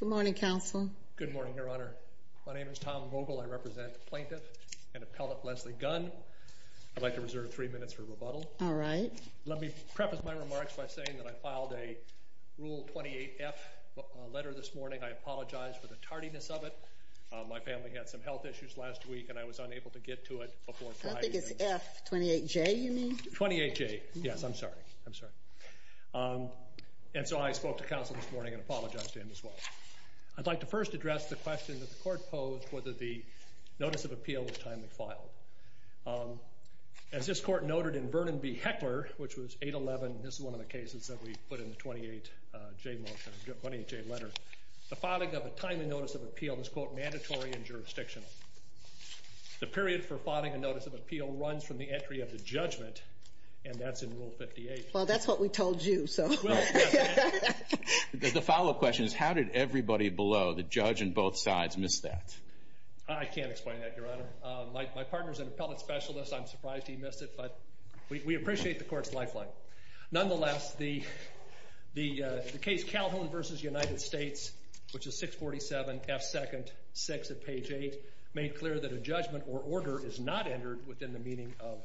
Good morning, Counsel. Good morning, Your Honor. My name is Tom Vogel. I represent the plaintiff and appellate Lezlie Gunn. I'd like to reserve three minutes for rebuttal. All right. Let me preface my remarks by saying that I filed a Rule 28F letter this morning. I apologize for the tardiness of it. My family had some health issues last week and I was unable to get to it before Friday. I think it's F28J you mean? 28J. Yes, I'm sorry. I'm sorry. And so I spoke to counsel this morning and as well. I'd like to first address the question that the court posed whether the Notice of Appeal was timely filed. As this court noted in Vernon v. Heckler, which was 811, this is one of the cases that we put in the 28J motion, 28J letter, the filing of a timely Notice of Appeal is, quote, mandatory in jurisdiction. The period for filing a Notice of Appeal runs from the entry of the judgment and that's in Rule 58. Well, that's what we told you, so. The follow-up question is how did everybody below, the judge and both sides, miss that? I can't explain that, Your Honor. My partner's an appellate specialist. I'm surprised he missed it, but we appreciate the court's lifeline. Nonetheless, the case Calhoun v. United States, which is 647 F2nd 6 at page 8, made clear that a judgment or order is not entered within the meaning of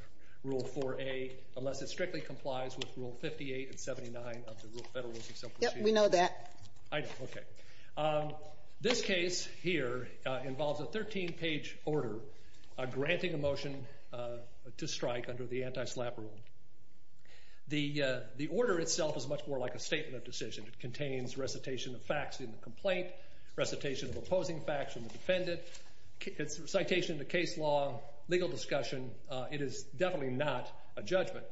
Rule 4A unless it strictly complies with Rule 58 and 79 of the Federal Rules of Self-Appreciation. Yep, we know that. I know, okay. This case here involves a 13-page order granting a motion to strike under the Anti-SLAPP Rule. The order itself is much more like a statement of decision. It contains recitation of facts in the complaint, recitation of opposing facts from the defendant, citation of the case law, legal discussion. It is definitely not a judgment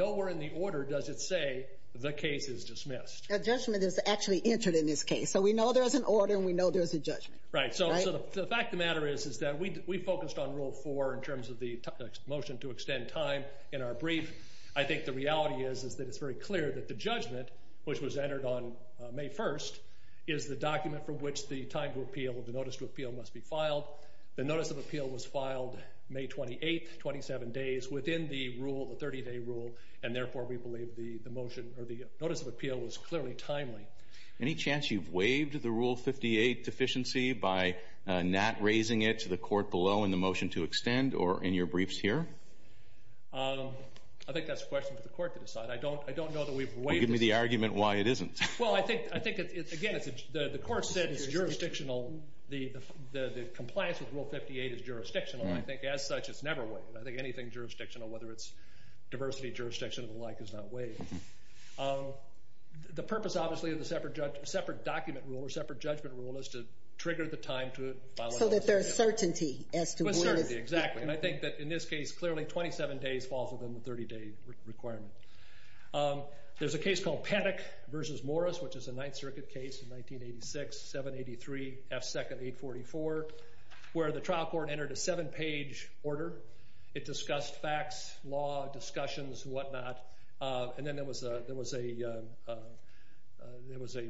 or order, does it say, the case is dismissed. A judgment is actually entered in this case, so we know there's an order and we know there's a judgment. Right, so the fact of the matter is is that we focused on Rule 4 in terms of the motion to extend time in our brief. I think the reality is is that it's very clear that the judgment, which was entered on May 1st, is the document from which the time to appeal, the notice to appeal, must be filed. The notice of appeal was filed May 28th, 27 days within the rule, the 30-day rule, and therefore we believe the motion or the notice of appeal was clearly timely. Any chance you've waived the Rule 58 deficiency by not raising it to the court below in the motion to extend or in your briefs here? I think that's a question for the court to decide. I don't know that we've waived it. Well, give me the argument why it isn't. Well, I think, again, the court said it's jurisdictional. The compliance with Rule 58 is jurisdictional. I think as such it's never waived. I think anything jurisdictional, whether it's diversity jurisdiction or the like, is not waived. The purpose, obviously, of the separate document rule or separate judgment rule is to trigger the time to file a notice of appeal. So that there's certainty as to when it's... There's certainty, exactly. And I think that in this case, clearly 27 days falls within the 30-day requirement. There's a case called Paddock v. Morris, which is a Ninth Circuit case in 1986, 783 F. 2nd, 844, where the trial court entered a seven-page order. It discussed facts, law, discussions, and whatnot. And then there was a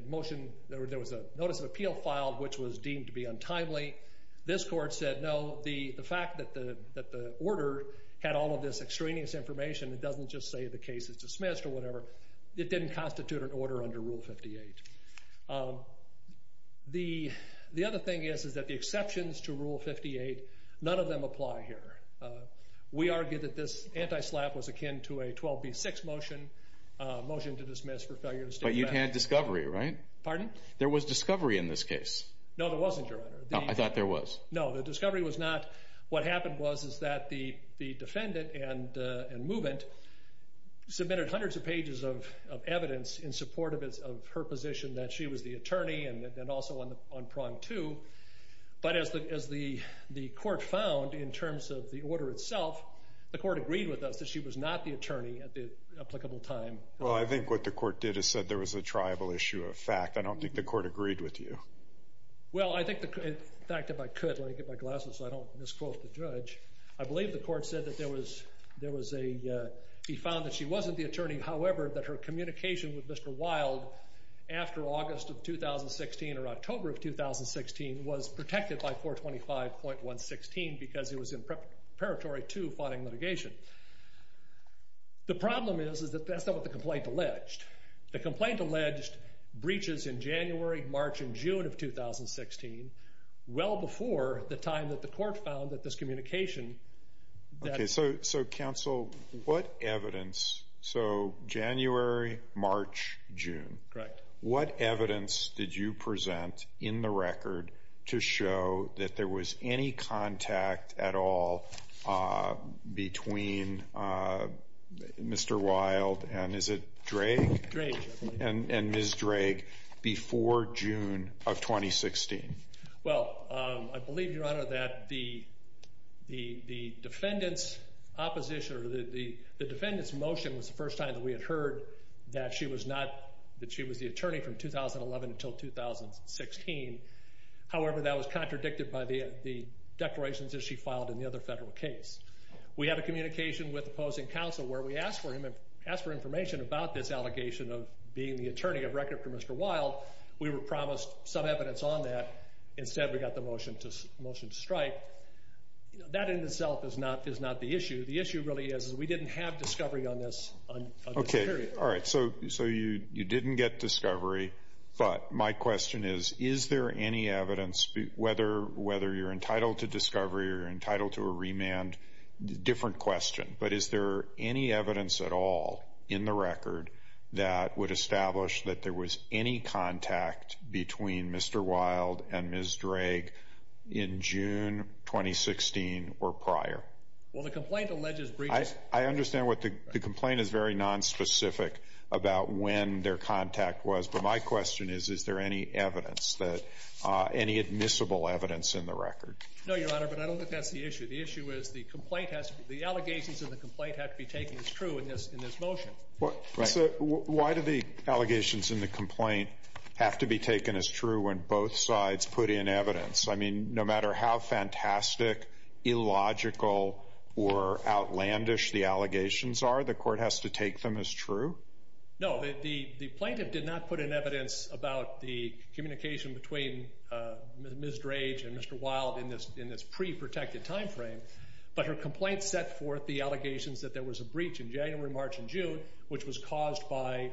motion, there was a notice of appeal filed, which was deemed to be untimely. This court said, no, the fact that the order had all of this extraneous information, it doesn't just say the case is dismissed or whatever, it didn't constitute an order under Rule 58. The other thing is that the exceptions to the rule are not here. We argue that this anti-SLAPP was akin to a 12b6 motion, a motion to dismiss for failure to state the facts. But you had discovery, right? Pardon? There was discovery in this case. No, there wasn't, Your Honor. No, I thought there was. No, the discovery was not. What happened was is that the defendant and movement submitted hundreds of pages of evidence in support of her position that she was the attorney and also on prong two. But as the defense of the order itself, the court agreed with us that she was not the attorney at the applicable time. Well, I think what the court did is said there was a triable issue of fact. I don't think the court agreed with you. Well, I think the, in fact, if I could, let me get my glasses so I don't misquote the judge. I believe the court said that there was a, he found that she wasn't the attorney. However, that her communication with Mr. Wilde after August of 2016 or October of preparatory to finding litigation. The problem is that that's not what the complaint alleged. The complaint alleged breaches in January, March, and June of 2016, well before the time that the court found that this communication that. Okay, so counsel, what evidence, so January, March, June. Correct. What evidence did you present in the record to show that there was any contact at all between Mr. Wilde and is it Drake? Drake. And Ms. Drake before June of 2016? Well, I believe, your honor, that the defendants opposition or the defendants motion was the first time that we had heard that she was not, that she was the attorney from 2011 until 2016. However, that was contradicted by the declarations that she filed in the other federal case. We had a communication with opposing counsel where we asked for him, asked for information about this allegation of being the attorney of record for Mr. Wilde. We were promised some evidence on that. Instead, we got the motion to strike. That in itself is not the issue. The issue really is we didn't have discovery on this period. You didn't get discovery, but my question is, is there any evidence whether you're entitled to discovery or entitled to a remand? Different question, but is there any evidence at all in the record that would establish that there was any contact between Mr. Wilde and Ms. Drake prior? Well, the complaint alleges... I understand what the complaint is very nonspecific about when their contact was, but my question is, is there any evidence that, any admissible evidence in the record? No, your honor, but I don't think that's the issue. The issue is the complaint has, the allegations of the complaint have to be taken as true in this motion. Why do the allegations in the complaint have to be taken as true when both sides put in evidence? I mean, no matter how fantastic, illogical, or outlandish the allegations are, the court has to take them as true? No, the plaintiff did not put in evidence about the communication between Ms. Drake and Mr. Wilde in this pre-protected time frame, but her complaint set forth the allegations that there was a breach in January, March, and June, which was caused by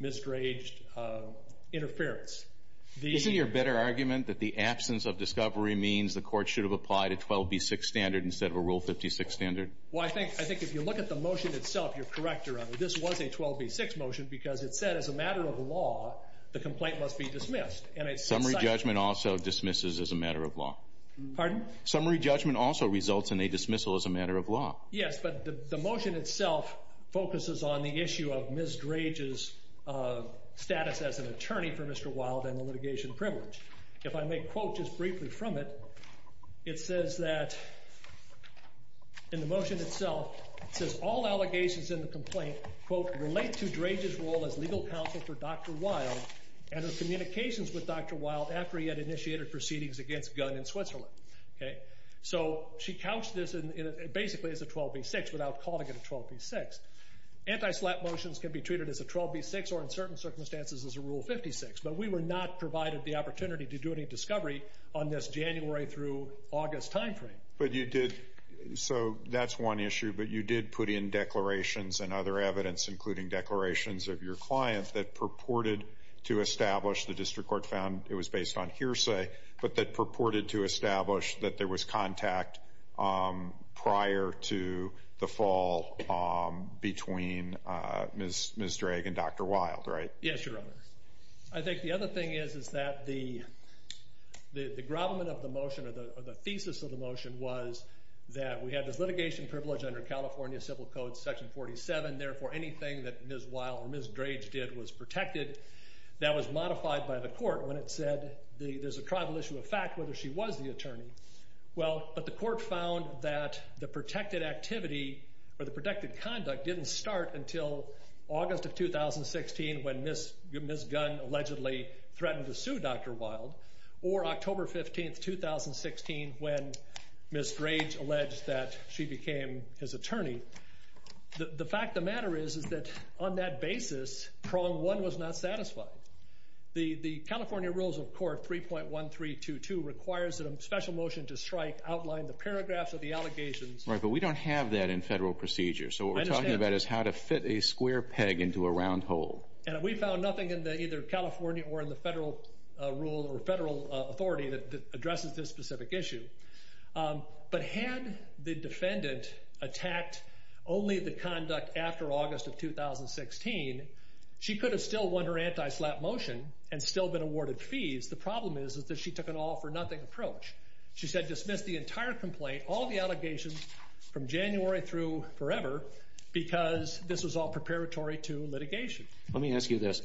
misdraged interference. Isn't your better argument that the absence of discovery means the court should have applied a 12B6 standard instead of a Rule 56 standard? Well, I think if you look at the motion itself, you're correct, your honor. This was a 12B6 motion because it said, as a matter of law, the complaint must be dismissed. Summary judgment also dismisses as a matter of law. Pardon? Summary judgment also results in a issue of Ms. Drake's status as an attorney for Mr. Wilde and the litigation privilege. If I may quote just briefly from it, it says that in the motion itself, it says all allegations in the complaint relate to Drake's role as legal counsel for Dr. Wilde and her communications with Dr. Wilde after he had initiated proceedings against Gunn in Switzerland. So she couched this basically as a 12B6 without calling it a 12B6. Anti-SLAPP motions can be treated as a 12B6 or in certain circumstances as a Rule 56, but we were not provided the opportunity to do any discovery on this January through August time frame. So that's one issue, but you did put in declarations and other evidence, including declarations of your client that purported to establish, the district court found it was based on hearsay, but that purported to establish that there was contact prior to the fall between Ms. Drake and Dr. Wilde, right? Yes, Your Honor. I think the other thing is that the grovelment of the motion or the thesis of the motion was that we had this litigation privilege under California Civil Code Section 47, therefore anything that Ms. Wilde or Ms. Drake did was protected. That was modified by the court when it said there's a tribal issue of fact whether she was the attorney. Well, but the court found that the protected activity or the protected conduct didn't start until August of 2016 when Ms. Gunn allegedly threatened to sue Dr. Wilde or October 15, 2016 when Ms. Drake alleged that she became his attorney. The fact of the matter is that on that basis, prong one was not satisfied. The California Rules of Court 3.1322 requires that a special motion to strike outline the paragraphs of the allegations. Right, but we don't have that in federal procedure, so what we're talking about is how to fit a square peg into a round hole. And we found nothing in either California or in the federal rule or when the defendant attacked only the conduct after August of 2016, she could have still won her anti-slap motion and still been awarded fees. The problem is that she took an all for nothing approach. She said dismiss the entire complaint, all the allegations from January through forever because this was all preparatory to litigation. Let me ask you this.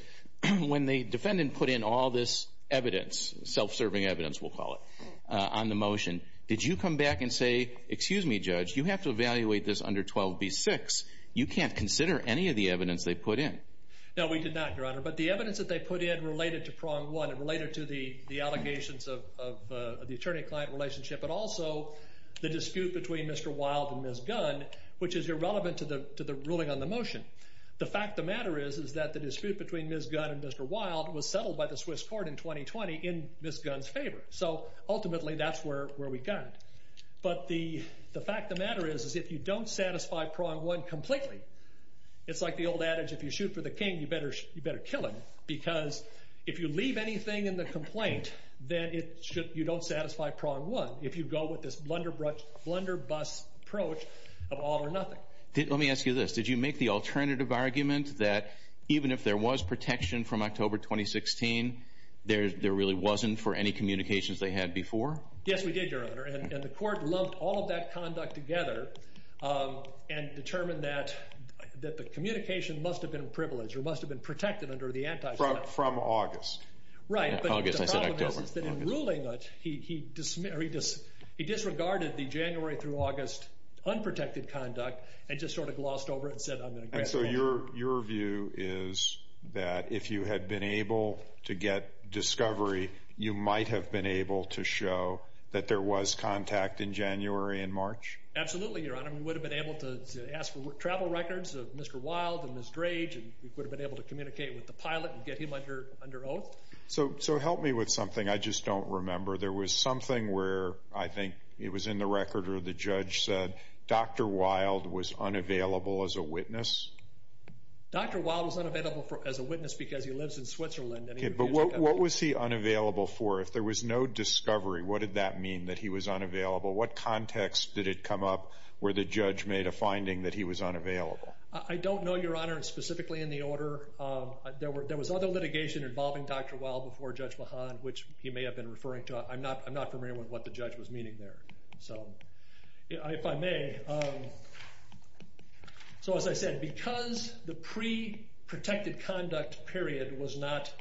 When the defendant put in all this evidence, self-serving evidence, we'll call it, on the motion, did you come back and say, excuse me, Judge, you have to evaluate this under 12b-6. You can't consider any of the evidence they put in. No, we did not, Your Honor, but the evidence that they put in related to prong one. It related to the allegations of the attorney-client relationship, but also the dispute between Mr. Wilde and Ms. Gunn, which is irrelevant to the ruling on the motion. The fact of the matter is that the dispute between Ms. Gunn and Mr. Wilde was settled by the Swiss court in 2020 in Ms. Gunn's favor. So ultimately that's where we got it, but the fact of the matter is if you don't satisfy prong one completely, it's like the old adage, if you shoot for the king, you better kill him because if you leave anything in the complaint, then you don't satisfy prong one if you go with this blunderbuss approach of if there was protection from October 2016, there really wasn't for any communications they had before? Yes, we did, Your Honor, and the court lumped all of that conduct together and determined that the communication must have been privileged or must have been protected under the antitrust. From August. Right, but the problem is that in ruling it, he disregarded the January through August unprotected conduct and just sort of glossed over it and said, I'm going to. And so your view is that if you had been able to get discovery, you might have been able to show that there was contact in January and March? Absolutely, Your Honor, we would have been able to ask for travel records of Mr. Wilde and Ms. Grange, and we would have been able to communicate with the pilot and get him under oath. So help me with something I just don't remember. There was something where I think it was in the record or the judge said Dr. Wilde was unavailable as a witness. Dr. Wilde was unavailable as a witness because he lives in Switzerland. But what was he unavailable for? If there was no discovery, what did that mean that he was unavailable? What context did it come up where the judge made a finding that he was unavailable? I don't know, Your Honor, and specifically in the order there was other litigation involving Dr. Wilde before Judge Mahan, which he may have been referring to. I'm not familiar with what the judge was meaning there. If I may, so as I said, because the pre-protected conduct period was not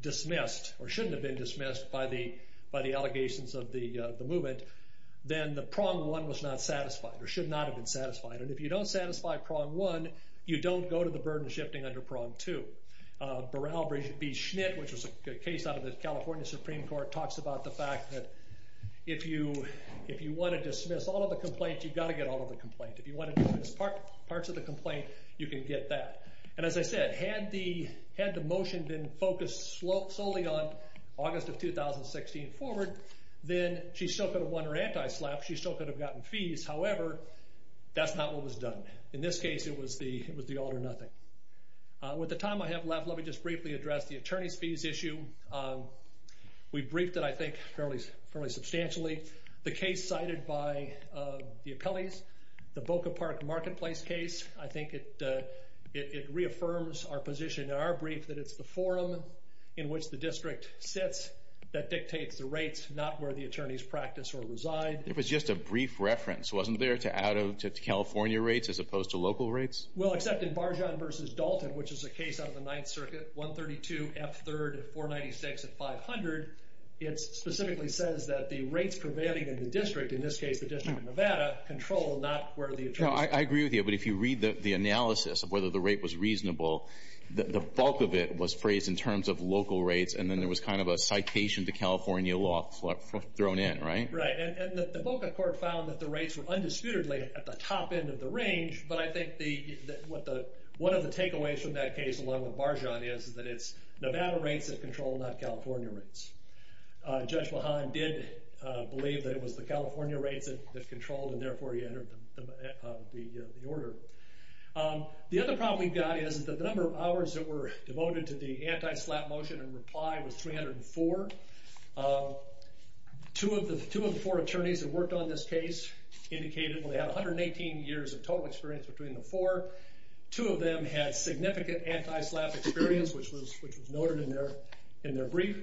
dismissed or shouldn't have been dismissed by the allegations of the movement, then the prong one was not satisfied or should not have been satisfied. And if you don't satisfy prong one, you don't go to the burden shifting under prong two. Burrell v. Schnitt, which was a case out of the California Supreme Court, talks about the fact that if you want to dismiss all of the complaints, you've got to get all of the complaints. If you want to dismiss parts of the complaint, you can get that. And as I said, had the motion been focused solely on August of 2016 forward, then she still could have won her anti-slap. She still could have gotten fees. However, that's not what was done. In this case, it was the all or nothing. With the time I have left, let me just briefly address the attorney's fees issue. We briefed it, I think, fairly substantially. The case cited by the appellees, the Boca Park Marketplace case, I think it reaffirms our position in our district. It was just a brief reference, wasn't there, to California rates as opposed to local rates? Well, except in Barjahn v. Dalton, which is a case out of the 9th Circuit, 132 F. 3rd 496 at 500, it specifically says that the rates prevailing in the district, in this case the district of Nevada, control not where the attorneys are. I agree with you, but if you read the and then there was kind of a citation to California law thrown in, right? Right, and the Boca court found that the rates were undisputedly at the top end of the range, but I think one of the takeaways from that case, along with Barjahn, is that it's Nevada rates that control not California rates. Judge Mahan did believe that it was the California rates that controlled, and therefore he entered the order. The other problem we've got is that the number of hours that were devoted to the anti-SLAPP motion and reply was 304. Two of the four attorneys that worked on this case indicated they had 118 years of total experience between the four. Two of them had significant anti-SLAPP experience, which was noted in their brief.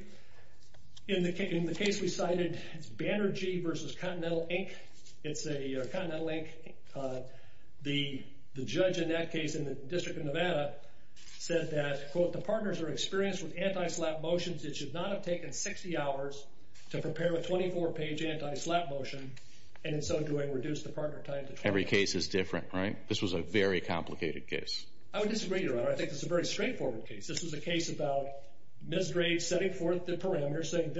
In the case we cited, it's Banerjee versus Continental Inc. It's a Continental Inc. The judge in that case in the district of Nevada said that, quote, the partners are experienced with anti-SLAPP motions. It should not have taken 60 hours to prepare a 24-page anti-SLAPP motion, and in so doing, reduce the partner time to 20 hours. Every case is different, right? This was a very complicated case. I would disagree, Your Honor. I think this is a very straightforward case. This was a case about Ms. Graves setting forth the parameters, saying,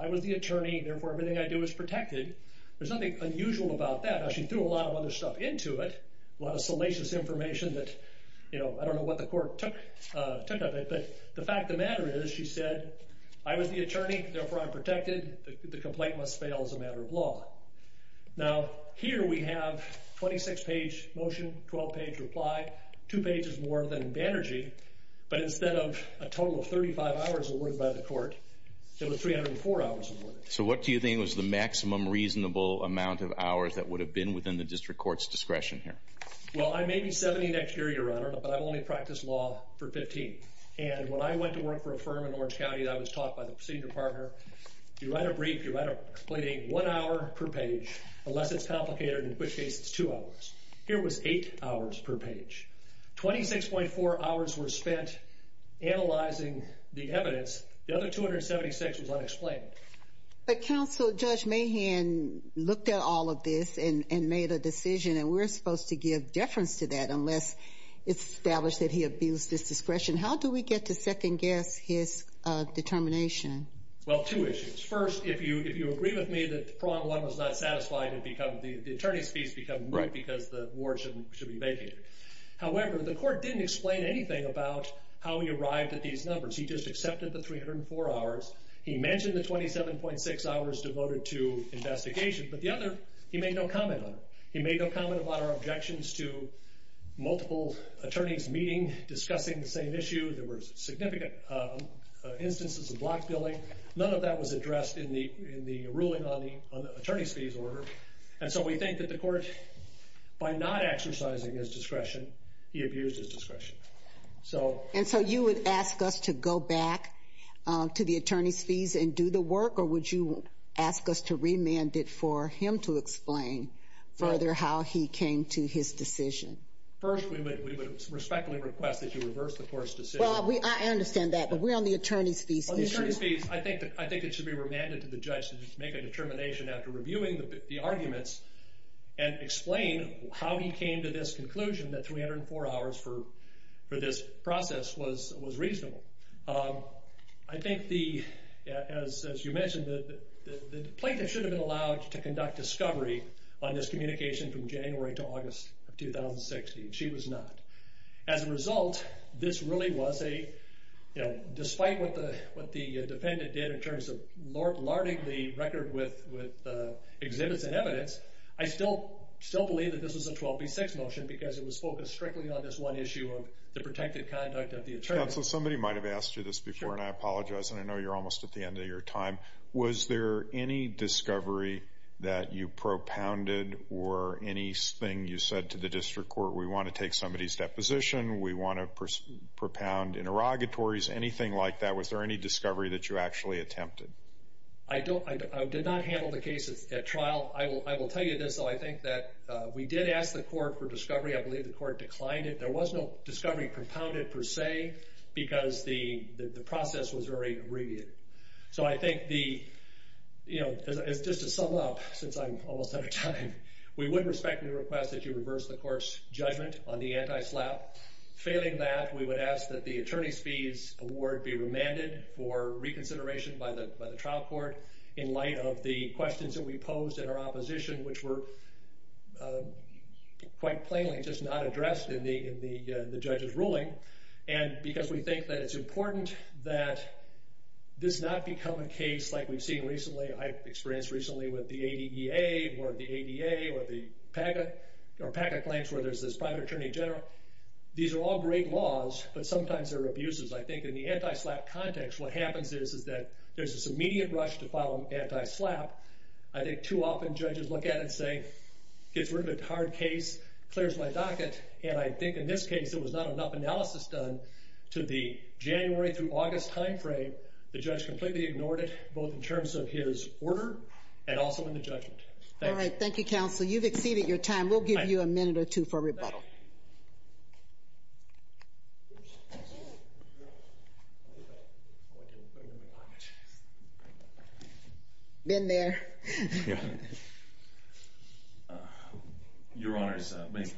I was the attorney, therefore everything I do is protected. There's nothing unusual about that. She threw a lot of other stuff into it, a lot of salacious information that I don't know what the court took of it, but the fact of the matter is, she said, I was the attorney, therefore I'm protected. The complaint must fail as a matter of law. Now, here we have 26-page motion, 12-page reply, 2 pages more than Banerjee, but instead of a total of 35 hours awarded by the court, it was 304 hours awarded. So what do you think was the maximum reasonable amount of hours that would have been within the district court's discretion here? Well, I may be 70 next year, Your Honor, but I've only practiced law for 15. And when I went to work for a firm in Orange County, I was taught by the senior partner, you write a brief, you write a one-hour per page, unless it's complicated, in which case it's two hours. Here was eight hours per page. 26.4 hours were spent analyzing the evidence. The other 276 was unexplained. But Counsel, Judge Mahan looked at all of this and made a decision, and we're supposed to give deference to that unless it's established that he abused his discretion. How do we get to second-guess his determination? Well, two issues. First, if you agree with me that prong one was not satisfied, the attorney's fees become moot because the ward should be vacated. However, the court didn't explain anything about how he arrived at these numbers. He just accepted the 304 hours. He mentioned the 27.6 hours devoted to investigation, but the other, he made no comment on it. He made no comment about our objections to multiple attorneys meeting discussing the same issue. There were significant instances of block billing. None of that was addressed in the ruling on the attorney's fees order. And so we think that the court, by not exercising his discretion, he abused his discretion. And so you would ask us to go back to the attorney's fees and do the work, or would you ask us to remand it for him to explain further how he came to his decision? First, we would respectfully request that you reverse the court's decision. Well, I understand that, but we're on the attorney's fees. I think it should be remanded to the judge to make a determination after reviewing the arguments and explain how he came to this conclusion that 304 hours for this process was reasonable. I think it should have been allowed to conduct discovery on this communication from January to August of 2016. She was not. As a result, this really was a, you know, despite what the defendant did in terms of larding the record with exhibits and evidence, I still believe that this was a 12B6 motion because it was focused strictly on this one issue of the protected conduct of the attorney. Counsel, somebody might have asked you this before, and I apologize, and I know you're almost at the end of your time. Was there any discovery that you propounded or anything you said to the district court? We want to take somebody's deposition. We want to propound interrogatories, anything like that. Was there any discovery that you actually attempted? I did not handle the case at trial. I will tell you this, though. I think that we did ask the court for discovery. I believe the court declined it. There was no discovery propounded per se because the process was very abbreviated. So I think the, you know, just to sum up, since I'm almost out of time, we would respectfully request that you reverse the court's judgment on the anti-SLAPP. Failing that, we would ask that the attorney's fees award be remanded for reconsideration by the trial court in light of the questions that we posed in our opposition, which were quite plainly just not addressed in the judge's ruling. And because we think that it's important that this not become a case like we've seen recently, I've experienced recently with the ADEA or the ADA or the PACA, or PACA claims where there's this private attorney general. These are all great laws, but sometimes they're abuses. I think in the anti-SLAPP context, what happens is that there's this immediate rush to file an anti-SLAPP. I think too often judges look at it and say, gets rid of a hard case, clears my docket. And I think in this case, there was not enough analysis done to the January through August time frame. The judge completely ignored it, both in terms of his order and also in the judgment. Thank you. All right. Thank you, counsel. You've exceeded your time. We'll give you a minute or two for rebuttal. Been there. Your Honor,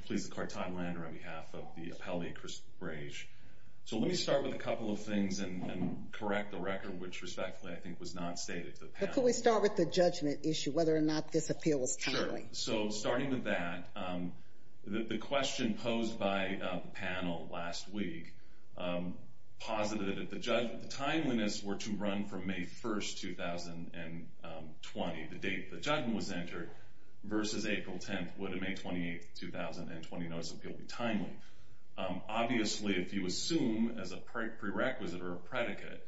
please, Carton Lander on behalf of the appellee, Chris Brage. So let me start with a couple of things and correct the record, which respectfully I think was not stated to the panel. But could we start with the judgment issue, whether or not this appeal was timely? Sure. So starting with that, the question posed by the panel last week posited that the timeliness were to run from May 1st, 2020, the date the judgment was entered, versus April 10th. Would a May 28th, 2020 notice appeal be timely? Obviously, if you assume as a prerequisite or a predicate,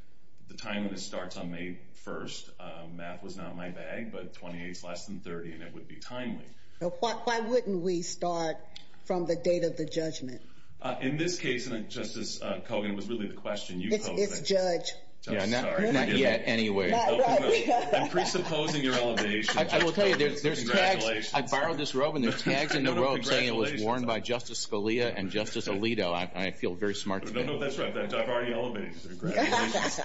the timeliness starts on May 1st. Math was not my bag, but 28 is less than 30, and it would be timely. Why wouldn't we start from the date of the judgment? In this case, Justice Kogan, it was really the question you posed. It's judge. Not yet, anyway. I'm presupposing your elevation. I will tell you, there's tags. I borrowed this robe, and there's tags in the robe saying it was worn by Justice Scalia and Justice Alito. I feel very smart today. That's right. I've already elevated you. Congratulations.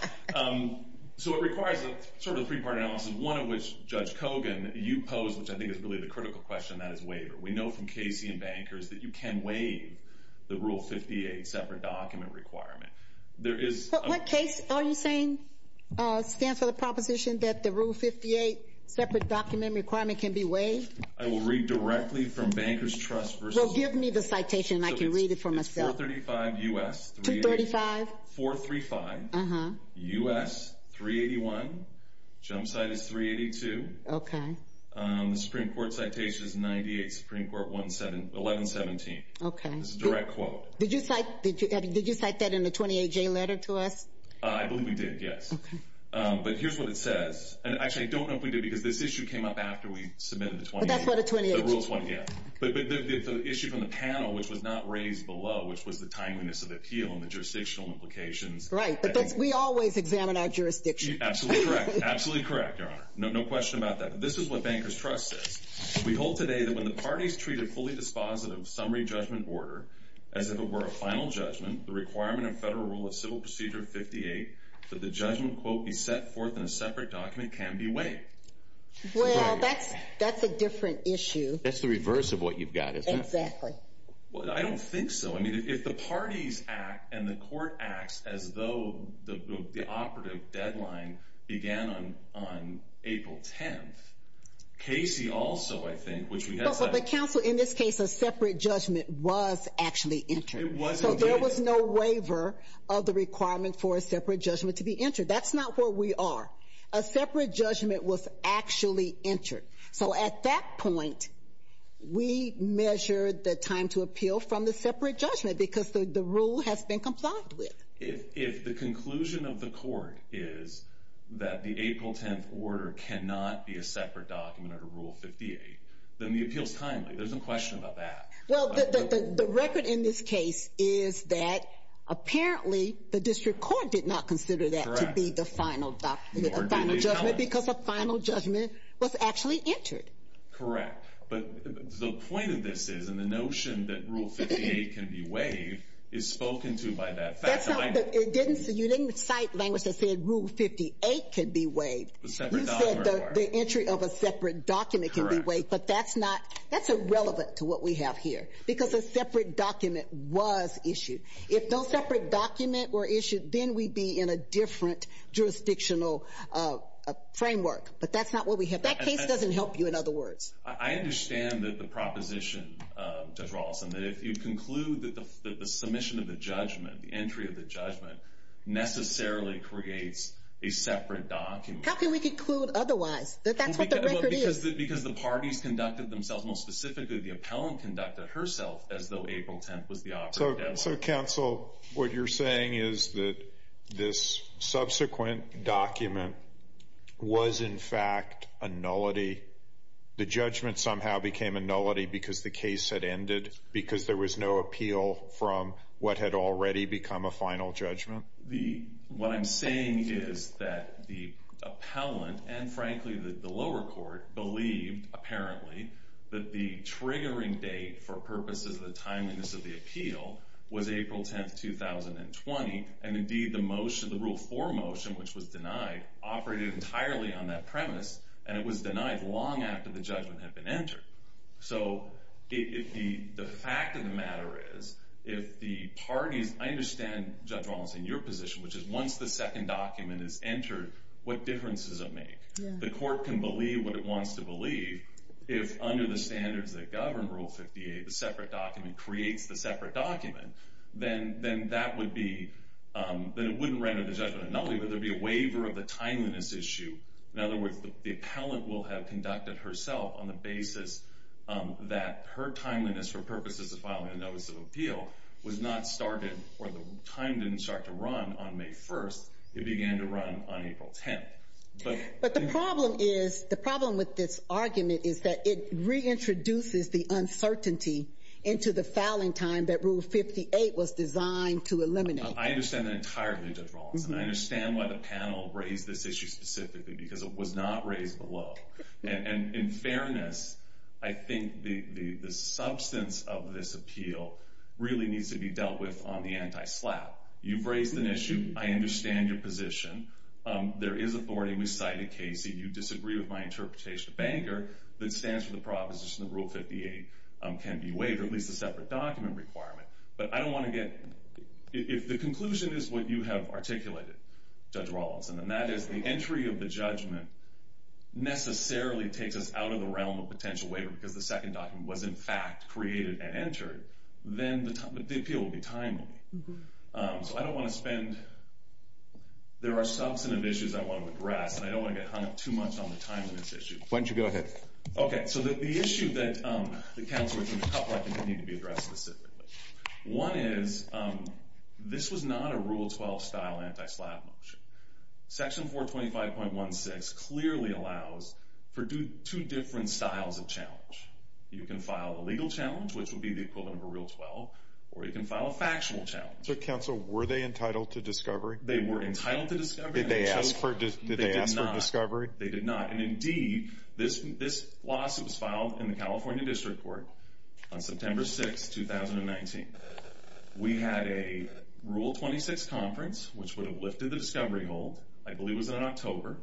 So it requires a three-part analysis, one of which, Judge Kogan, you posed, which I think is really the critical question, that is waiver. We know from Casey and bankers that you can waive the Rule 58 separate document requirement. What case are you saying stands for the proposition that the Rule 58 separate document requirement can be waived? I will read directly from Bankers Trust. Give me the citation, and I can read it for myself. It's 435 U.S. 381. Jump site is 382. The Supreme Court citation is 98, Supreme Court 1117. This is a direct quote. Did you cite that in the 28J letter to us? I believe we did, yes. But here's what it says. And actually, I don't know if we did, because this issue came up after we submitted the 28J. But that's what a 28J is. But the issue from the panel, which was not raised below, which was the timeliness of appeal and the jurisdictional implications. Right. But we always examine our jurisdiction. Absolutely correct. Absolutely correct, Your Honor. No question about that. This is what Bankers Trust says. We hold today that when the parties treat a fully dispositive summary judgment order as if it were a final judgment, the requirement of Federal Rule of Civil Procedure 58 that the judgment, quote, be set forth in a separate document can be waived. Well, that's a different issue. That's the reverse of what you've got, isn't it? Exactly. Well, I don't think so. I mean, if the parties act and the court acts as though the operative deadline began on April 10th, Casey also, I think, which we had... But the counsel, in this case, a separate judgment was actually entered. It was indeed. So there was no waiver of the requirement for a separate judgment to be entered. That's not where we are. A separate judgment was actually entered. So at that point, we measured the time to appeal from the separate judgment, because the rule has been complied with. If the conclusion of the court is that the April 10th order cannot be a separate document under Rule 58, then the appeal is timely. There's no question about that. Well, the record in this case is that apparently the district court did not consider that to be the final judgment, because a final judgment was actually entered. Correct. But the point of this is, and the notion that you would cite language that said Rule 58 can be waived, you said the entry of a separate document can be waived. But that's irrelevant to what we have here, because a separate document was issued. If no separate document were issued, then we'd be in a different jurisdictional framework. But that's not what we have. That case doesn't help you, in other words. I understand that the proposition, Judge Rawlinson, that if you conclude that the submission of the judgment, the entry of the judgment, necessarily creates a separate document. How can we conclude otherwise? Because the parties conducted themselves, more specifically the appellant conducted herself as though April 10th was the operative deadline. So, counsel, what you're saying is that this subsequent document was, in fact, a nullity. The judgment somehow became a nullity because the case had ended, because there was no appeal from what had already become a final judgment? What I'm saying is that the appellant and, frankly, the lower court believed, apparently, that the triggering date for purposes of the timeliness of the appeal was April 10th, 2020. And, indeed, the motion, the Rule 4 motion, which was denied, operated entirely on that premise, and it was denied long after the judgment had been entered. So, the fact of the matter is, if the parties, I understand, Judge Rawlinson, your position, which is once the second document is entered, what difference does it make? The court can believe what it wants to believe if, under the standards that govern Rule 58, the separate document creates the separate whether there be a waiver of the timeliness issue. In other words, the appellant will have conducted herself on the basis that her timeliness for purposes of filing a notice of appeal was not started, or the time didn't start to run on May 1st, it began to run on April 10th. But the problem with this argument is that it reintroduces the uncertainty into the filing time that Rule 58 was designed to eliminate. I understand that entirely, Judge Rawlinson. I understand why the panel raised this issue specifically, because it was not raised below. And, in fairness, I think the substance of this appeal really needs to be dealt with on the anti-SLAPP. You've raised an issue. I understand your position. There is authority. We cited Casey. You disagree with my interpretation of Bangor. I think there is an issue in Bangor that stands for the proposition that Rule 58 can be waived, or at least a separate document requirement. But I don't want to get... If the conclusion is what you have articulated, Judge Rawlinson, and that is the entry of the judgment necessarily takes us out of the realm of potential waiver because the second document was in fact created and entered, then the appeal will be timely. So I don't want to spend... There are substantive issues I want to address, and I don't want to get hung up too much on the timeliness issue. Why don't you go ahead. Okay. So the issue that the counselors and the couple need to be addressed specifically. One is, this was not a Rule 12-style anti-SLAPP motion. Section 425.16 clearly allows for two different styles of challenge. You can file a legal challenge, which would be the equivalent of a Rule 12, or you can file a factual challenge. So counsel, were they entitled to discovery? They were entitled to discovery. Did they ask for discovery? They did not. And indeed, this lawsuit was filed in the California District Court on September 6, 2019. We had a Rule 26 conference, which would have lifted the discovery hold. I believe it was in October.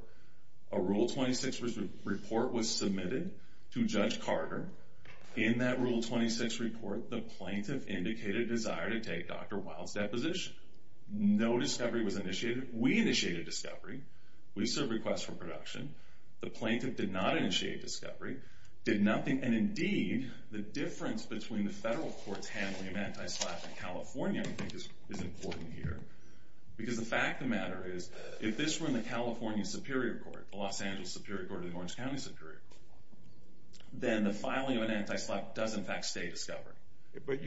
A Rule 26 report was submitted to Judge Carter. In that Rule 26 report, the plaintiff indicated a desire to take Dr. Wild's deposition. No discovery was initiated. We initiated discovery. We served requests for production. The plaintiff did not initiate discovery, did nothing. And indeed, the difference between the federal courts handling an anti-SLAPP in California, I think, is important here. Because the fact of the matter is, if this were in the California Superior Court, the Los Angeles Superior Court, or the Orange County Superior Court, then the filing of an anti-SLAPP does, in fact, stay discovery.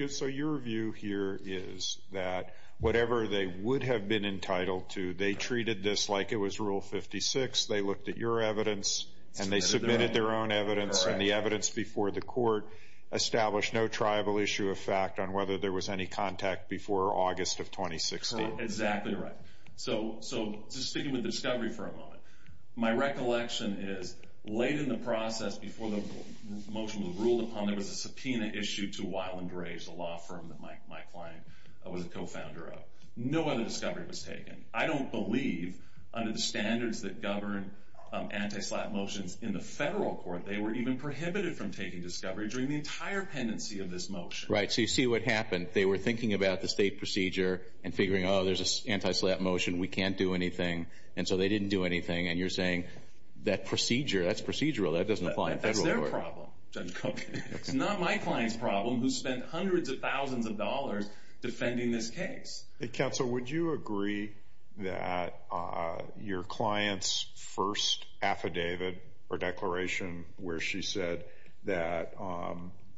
So your view here is that whatever they would have been entitled to, they treated this like it was Rule 56, they looked at your evidence, and they submitted their own evidence, and the evidence before the court established no tribal issue of fact on whether there was any contact before August of 2016? Exactly right. So just sticking with discovery for a moment, my recollection is, late in the process, before the motion was ruled upon, there was a subpoena issued to Wild and Gray, the law firm that my client was a co-founder of. No other discovery was taken. I don't believe, under the standards that govern anti-SLAPP motions in the federal court, they were even prohibited from taking discovery during the entire pendency of this motion. Right. So you see what happened. They were thinking about the state procedure and figuring, oh, there's an anti-SLAPP motion, we can't do anything, and so they didn't do anything. And you're saying, that procedure, that's procedural, that doesn't apply in federal court. That's their problem, Judge Cook. It's not my client's problem, who spent hundreds of thousands of dollars defending this case. Counsel, would you agree that your client's first affidavit or declaration where she said that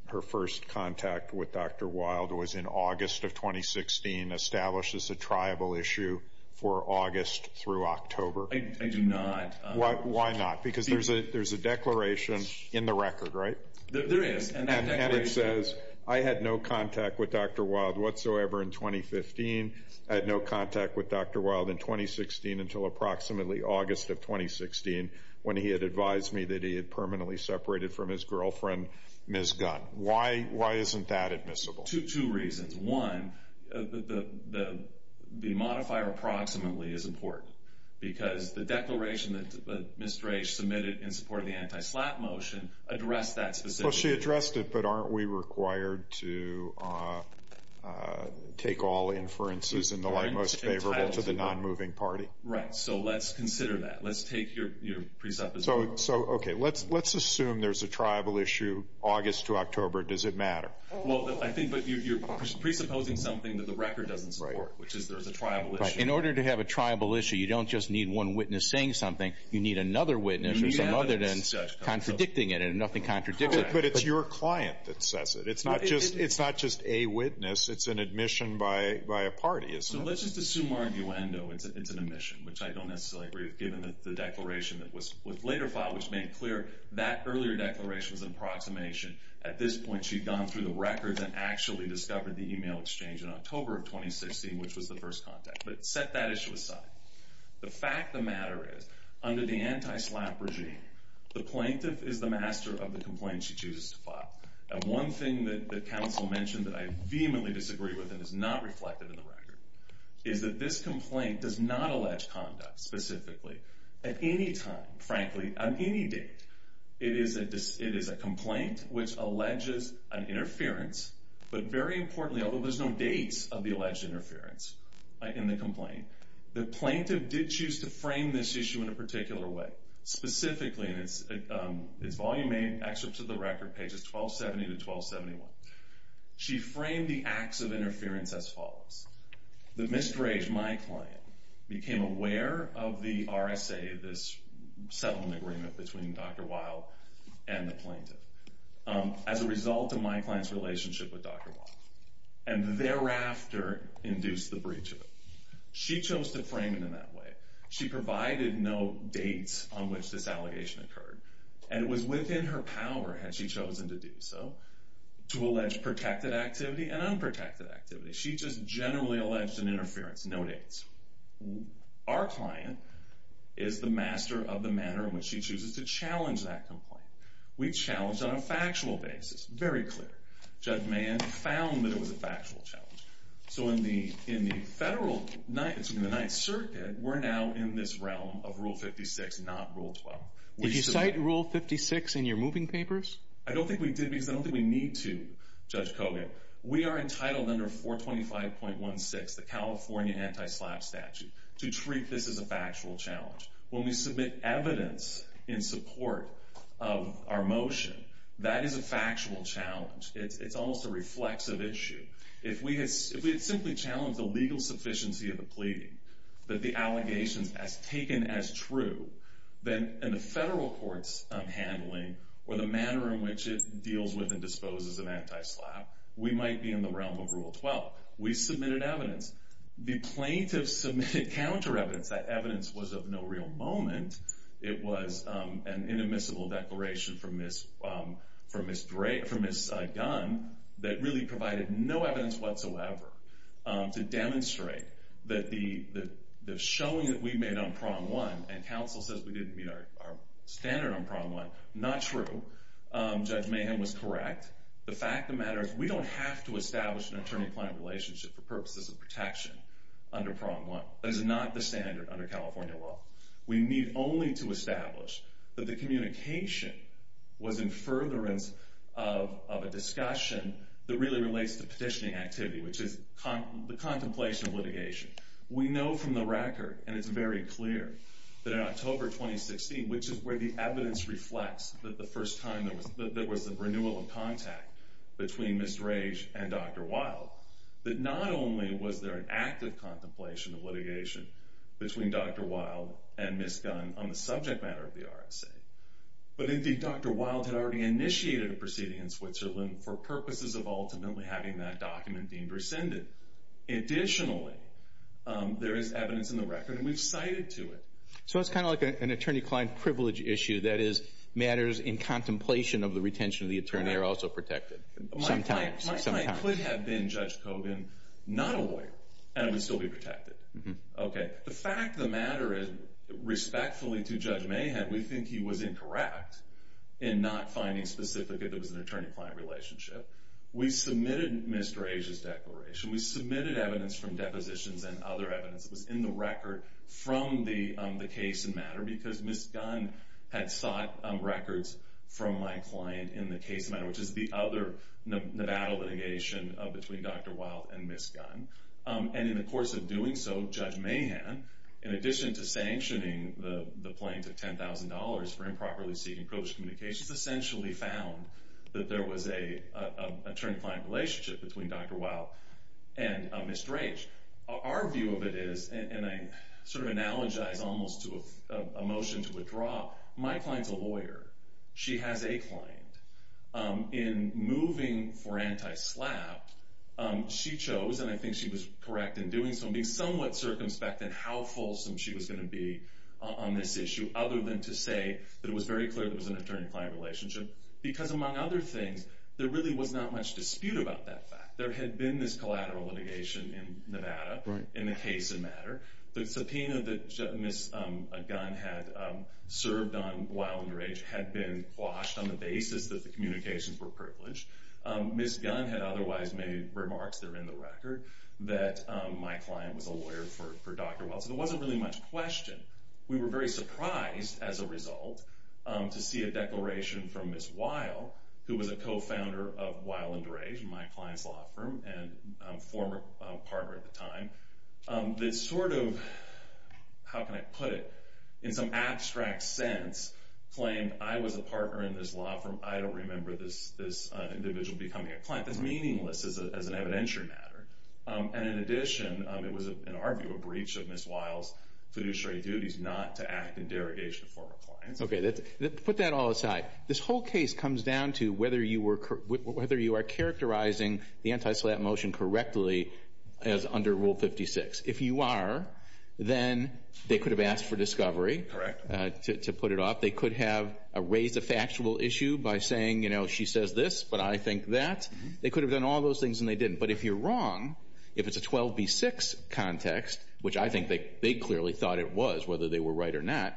her first contact with Dr. Wild was in August of 2016 establishes a tribal issue for August through October? I do not. Why not? Because there's a declaration in the record, right? There is. And it says, I had no contact with Dr. Wild whatsoever in 2015. I had no contact with Dr. Wild in 2016 until approximately August of 2016, when he had advised me that he had permanently separated from his girlfriend, Ms. Gunn. Why isn't that admissible? Two reasons. One, the modifier approximately is important, because the declaration that Ms. Drache submitted in support of the anti-SLAPP motion addressed that specific issue. Well, she addressed it, but aren't we required to take all inferences in the light most favorable to the non-moving party? Right. So let's consider that. Let's take your presupposition. So, okay, let's assume there's a tribal issue August to October. Does it matter? Well, I think you're presupposing something that the record doesn't support, which is there's a tribal issue. Right. In order to have a tribal issue, you don't just need one witness saying something, you need another witness or something other than contradicting it, and nothing contradicts that. But it's your client that says it. It's not just a witness. It's an admission by a party. So let's just assume arguendo it's an admission, which I don't necessarily agree with, given the declaration that was later filed, which made clear that earlier declaration was an approximation. At this point, she'd gone through the records and actually discovered the email exchange in October of 2016, which was the first contact, but set that issue aside. The fact of the matter is, under the anti-SLAPP regime, the plaintiff is the master of the complaint she chooses to file. And one thing that counsel mentioned that I vehemently disagree with and is not reflected in the record is that this complaint does not allege conduct, specifically, at any time, frankly, on any date. It is a complaint which alleges an interference, but very importantly, although there's no dates of the alleged interference in the complaint, the plaintiff did choose to frame this issue in a particular way. Specifically, and it's Volume 8, Excerpts of the Record, pages 1270 to 1271. She framed the acts of interference as follows. The misdredge, my client, became aware of the RSA, this settlement agreement between Dr. Weil and the plaintiff, as a result of my client's relationship with Dr. Weil, and thereafter induced the breach of it. She chose to frame it in that way. She provided no dates on which this allegation occurred. And it was within her power, had she chosen to do so, to allege protected activity and unprotected activity. She just generally alleged an interference, no dates. Our client is the master of the manner in which she chooses to challenge that complaint. We challenged on a factual basis, very clear. Judge Mann found that it was a factual challenge. So in the Federal, excuse me, the Ninth Circuit, we're now in this realm of Rule 56, not Rule 12. Did you cite Rule 56 in your moving papers? I don't think we did, because I don't think we need to, Judge Kogan. We are entitled under 425.16, the California Anti-SLAPP statute, to treat this as a factual challenge. When we submit evidence in support of our motion, that is a factual challenge. It's almost a reflexive issue. If we had simply challenged the legal sufficiency of the pleading, that the allegations as taken as true, then in the Federal court's handling, or the manner in which it deals with and disposes of anti-SLAPP, we might be in the realm of Rule 12. We submitted evidence. The plaintiff submitted counter-evidence. That evidence was of no real moment. It was an inadmissible declaration from Ms. Dunn that really provided no evidence whatsoever to demonstrate that the showing that we made on Prong One, and counsel says we didn't meet our standard on Prong One, not true. Judge Mayhem was correct. The fact of the matter is we don't have to establish an attorney-client relationship for purposes of protection under Prong One. That is not the standard under California law. We need only to establish that the communication was in furtherance of a discussion that really relates to petitioning activity, which is the contemplation of litigation. We know from the record, and it's very clear, that in October 2016, which is where the evidence reflects that the first time there was a renewal of contact between Ms. Drage and Dr. Wild, that not only was there an active contemplation of litigation between Dr. Wild and Ms. Dunn on the subject matter of the RSA, but indeed Dr. Wild had already initiated a proceeding in Switzerland for purposes of ultimately having that document deemed rescinded. Additionally, there is evidence in the record, and we've cited to it. So it's kind of like an attorney-client privilege issue. That is, matters in contemplation of the retention of the attorney are also protected. Sometimes. My client could have been Judge Kogan, not a lawyer, and would still be protected. The fact of the matter is, respectfully to Judge Mayhem, we think he was incorrect in not finding specifically that there was an attorney-client relationship. We submitted Ms. Drage's declaration. We submitted evidence from depositions and other evidence that was in the record from the case in matter because Ms. Dunn had sought records from my client in the case in matter, which is the other Nevada litigation between Dr. Wild and Ms. Dunn. And in the course of doing so, Judge Mayhem, in addition to sanctioning the plaintiff $10,000 for improperly seeking privileged communication, essentially found that there was an attorney-client relationship between Dr. Wild and Ms. Drage. Our view of it is, and I sort of analogize almost to a motion to withdraw, my client's a lawyer. She has a client. In moving for anti-SLAPP, she chose, and I think she was correct in doing so, in being somewhat circumspect in how fulsome she was going to be on this issue, other than to say that it was very clear there was an attorney-client relationship. Because among other things, there really was not much dispute about that fact. There had been this collateral litigation in Nevada in the case in matter. The subpoena that Ms. Dunn had served on Wild and Drage had been quashed on the basis that the communications were privileged. Ms. Dunn had otherwise made remarks that are in the record that my client was a lawyer for Dr. Wild. So there wasn't really much question. We were very surprised as a result to see a declaration from Ms. Wild, who was a co-founder of Wild and Drage, my client's law firm and former partner at the time, that sort of, how can I put it, in some abstract sense, claimed I was a partner in this law firm. I don't remember this individual becoming a client. That's meaningless as an evidentiary matter. And in addition, it was, in our view, a breach of Ms. Wild's fiduciary duties not to act in derogation of former clients. Okay, put that all aside. This whole case comes down to whether you are characterizing the anti-SLAPP motion correctly as under Rule 56. If you are, then they could have asked for discovery to put it off. They could have raised a factual issue by saying, you know, she says this, but I think that. They could have done all those things and they didn't. But if you're wrong, if it's a 12B6 context, which I think they clearly thought it was, whether they were right or not,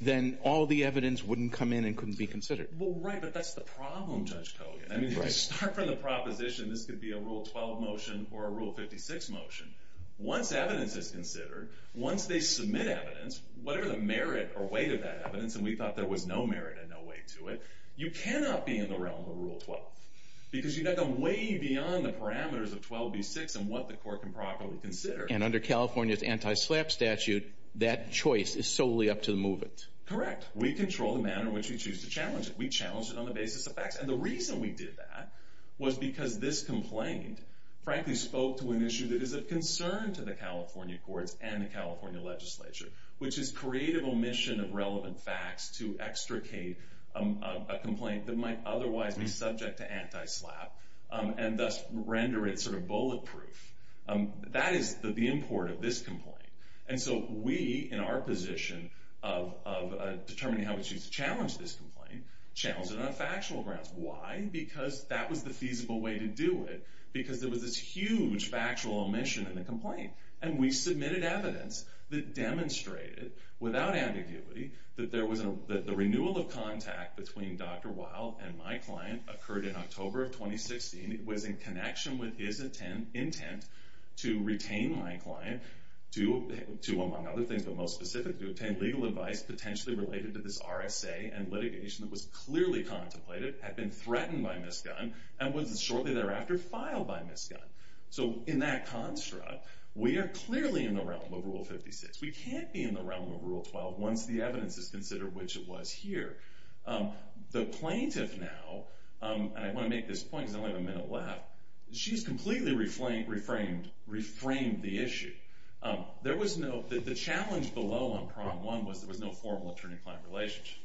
then all the evidence wouldn't come in and couldn't be considered. Well, right, but that's the problem, Judge Kogan. I mean, if you start from the proposition this could be a Rule 12 motion or a Rule 56 motion, once evidence is considered, once they submit evidence, whatever the merit or weight of that evidence, and we thought there was no merit and no weight to it, you cannot be in the realm of Rule 12 because you've got to go way beyond the parameters of 12B6 and what the court can properly consider. And under California's anti-SLAPP statute, that choice is solely up to the movement. Correct. We control the manner in which we choose to challenge it. We challenge it on the basis of facts. And the reason we did that was because this complaint, frankly, spoke to an issue that is of concern to the California courts and the California legislature, which is creative omission of relevant facts to extricate a complaint that might otherwise be subject to anti-SLAPP and thus render it sort of bulletproof. That is the import of this complaint. And so we, in our position of determining how we choose to challenge this complaint, challenged it on factual grounds. Why? Because that was the feasible way to do it, because there was this huge factual omission in the complaint. And we submitted evidence that demonstrated, without ambiguity, that the renewal of contact between Dr. Weil and my client occurred in October of 2016. It was in connection with his intent to retain my client to, among other things, but most specifically to obtain legal advice potentially related to this RSA and litigation that was clearly contemplated, had been threatened by Ms. Gunn, and was shortly thereafter filed by Ms. Gunn. So in that construct, we are clearly in the realm of Rule 56. We can't be in the realm of Rule 12 once the evidence is considered which it was here. The plaintiff now, and I want to make this point because I only have a minute left, she's completely reframed the issue. The challenge below on Prong 1 was there was no formal attorney-client relationship,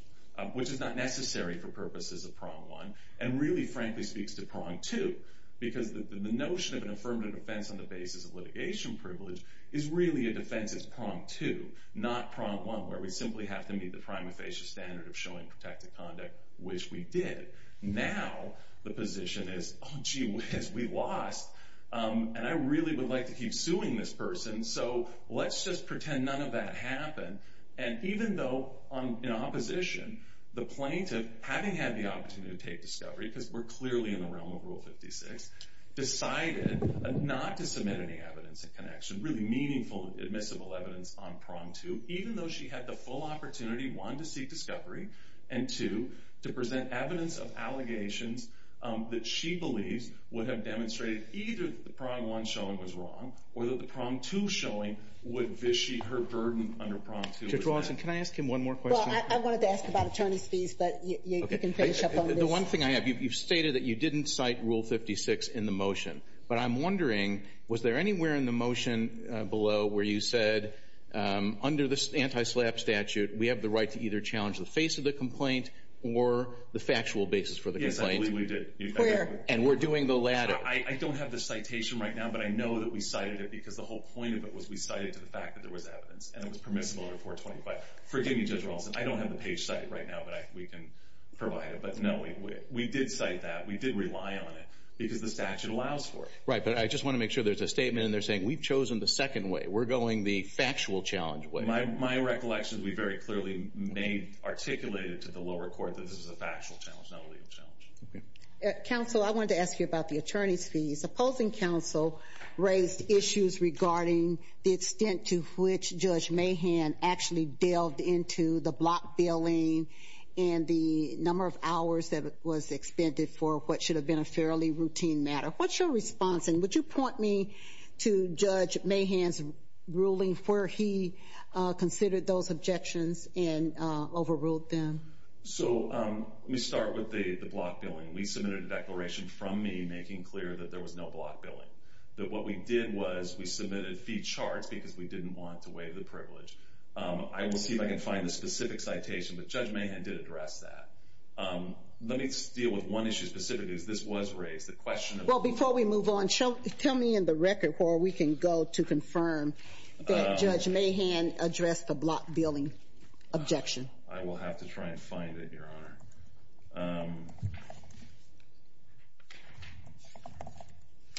which is not necessary for purposes of Prong 1, and really, frankly, speaks to Prong 2, because the notion of an affirmative defense on the basis of litigation privilege is really a defense as Prong 2, not Prong 1, where we simply have to meet the prima facie standard of showing protected conduct, which we did. Now the position is, oh, gee whiz, we lost, and I really would like to keep suing this person, so let's just pretend none of that happened. And even though in opposition, the plaintiff, having had the opportunity to take discovery, because we're clearly in the realm of Rule 56, decided not to submit any evidence in connection, really meaningful, admissible evidence on Prong 2, even though she had the full opportunity, one, to seek discovery, and two, to present evidence of allegations that she believes would have demonstrated either that the Prong 1 showing was wrong or that the Prong 2 showing would vichy her burden under Prong 2. Judge Rawson, can I ask him one more question? Well, I wanted to ask about attorney's fees, but you can finish up on this. The one thing I have, you've stated that you didn't cite Rule 56 in the motion, but I'm wondering, was there anywhere in the motion below where you said under the anti-SLAPP statute we have the right to either challenge the face of the complaint or the factual basis for the complaint? Yes, I believe we did. And we're doing the latter. I don't have the citation right now, but I know that we cited it because the whole point of it was we cited it to the fact that there was evidence, and it was permissible under 425. Forgive me, Judge Rawson, I don't have the page cited right now, but we can provide it. We did cite that. We did rely on it because the statute allows for it. Right, but I just want to make sure there's a statement in there saying we've chosen the second way. We're going the factual challenge way. My recollection is we very clearly articulated to the lower court that this is a factual challenge, not a legal challenge. Counsel, I wanted to ask you about the attorney's fees. Supposing counsel raised issues regarding the extent to which Judge Mahan actually delved into the block billing and the number of hours that was expended for what should have been a fairly routine matter, what's your response? And would you point me to Judge Mahan's ruling where he considered those objections and overruled them? So let me start with the block billing. We submitted a declaration from me making clear that there was no block billing, that what we did was we submitted fee charts because we didn't want to waive the privilege. I will see if I can find the specific citation, but Judge Mahan did address that. Let me deal with one issue specifically because this was raised. Well, before we move on, tell me in the record where we can go to confirm that Judge Mahan addressed the block billing objection. I will have to try and find it, Your Honor.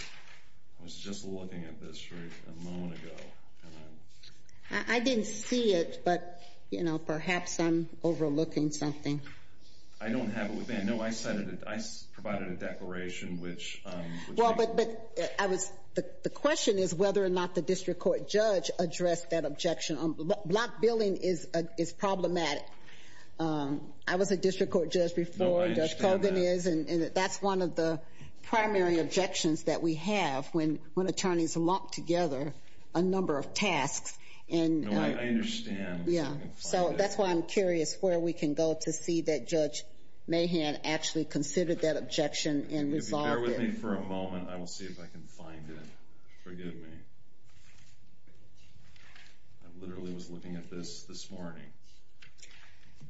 I was just looking at this right a moment ago. I didn't see it, but, you know, perhaps I'm overlooking something. I don't have it with me. No, I said it. I provided a declaration, which you – Well, but I was – the question is whether or not the district court judge addressed that objection. Block billing is problematic. I was a district court judge before. No, I understand that. That's one of the primary objections that we have when attorneys lock together a number of tasks. No, I understand. Yeah, so that's why I'm curious where we can go to see that Judge Mahan actually considered that objection and resolved it. If you bear with me for a moment, I will see if I can find it. Forgive me. I literally was looking at this this morning.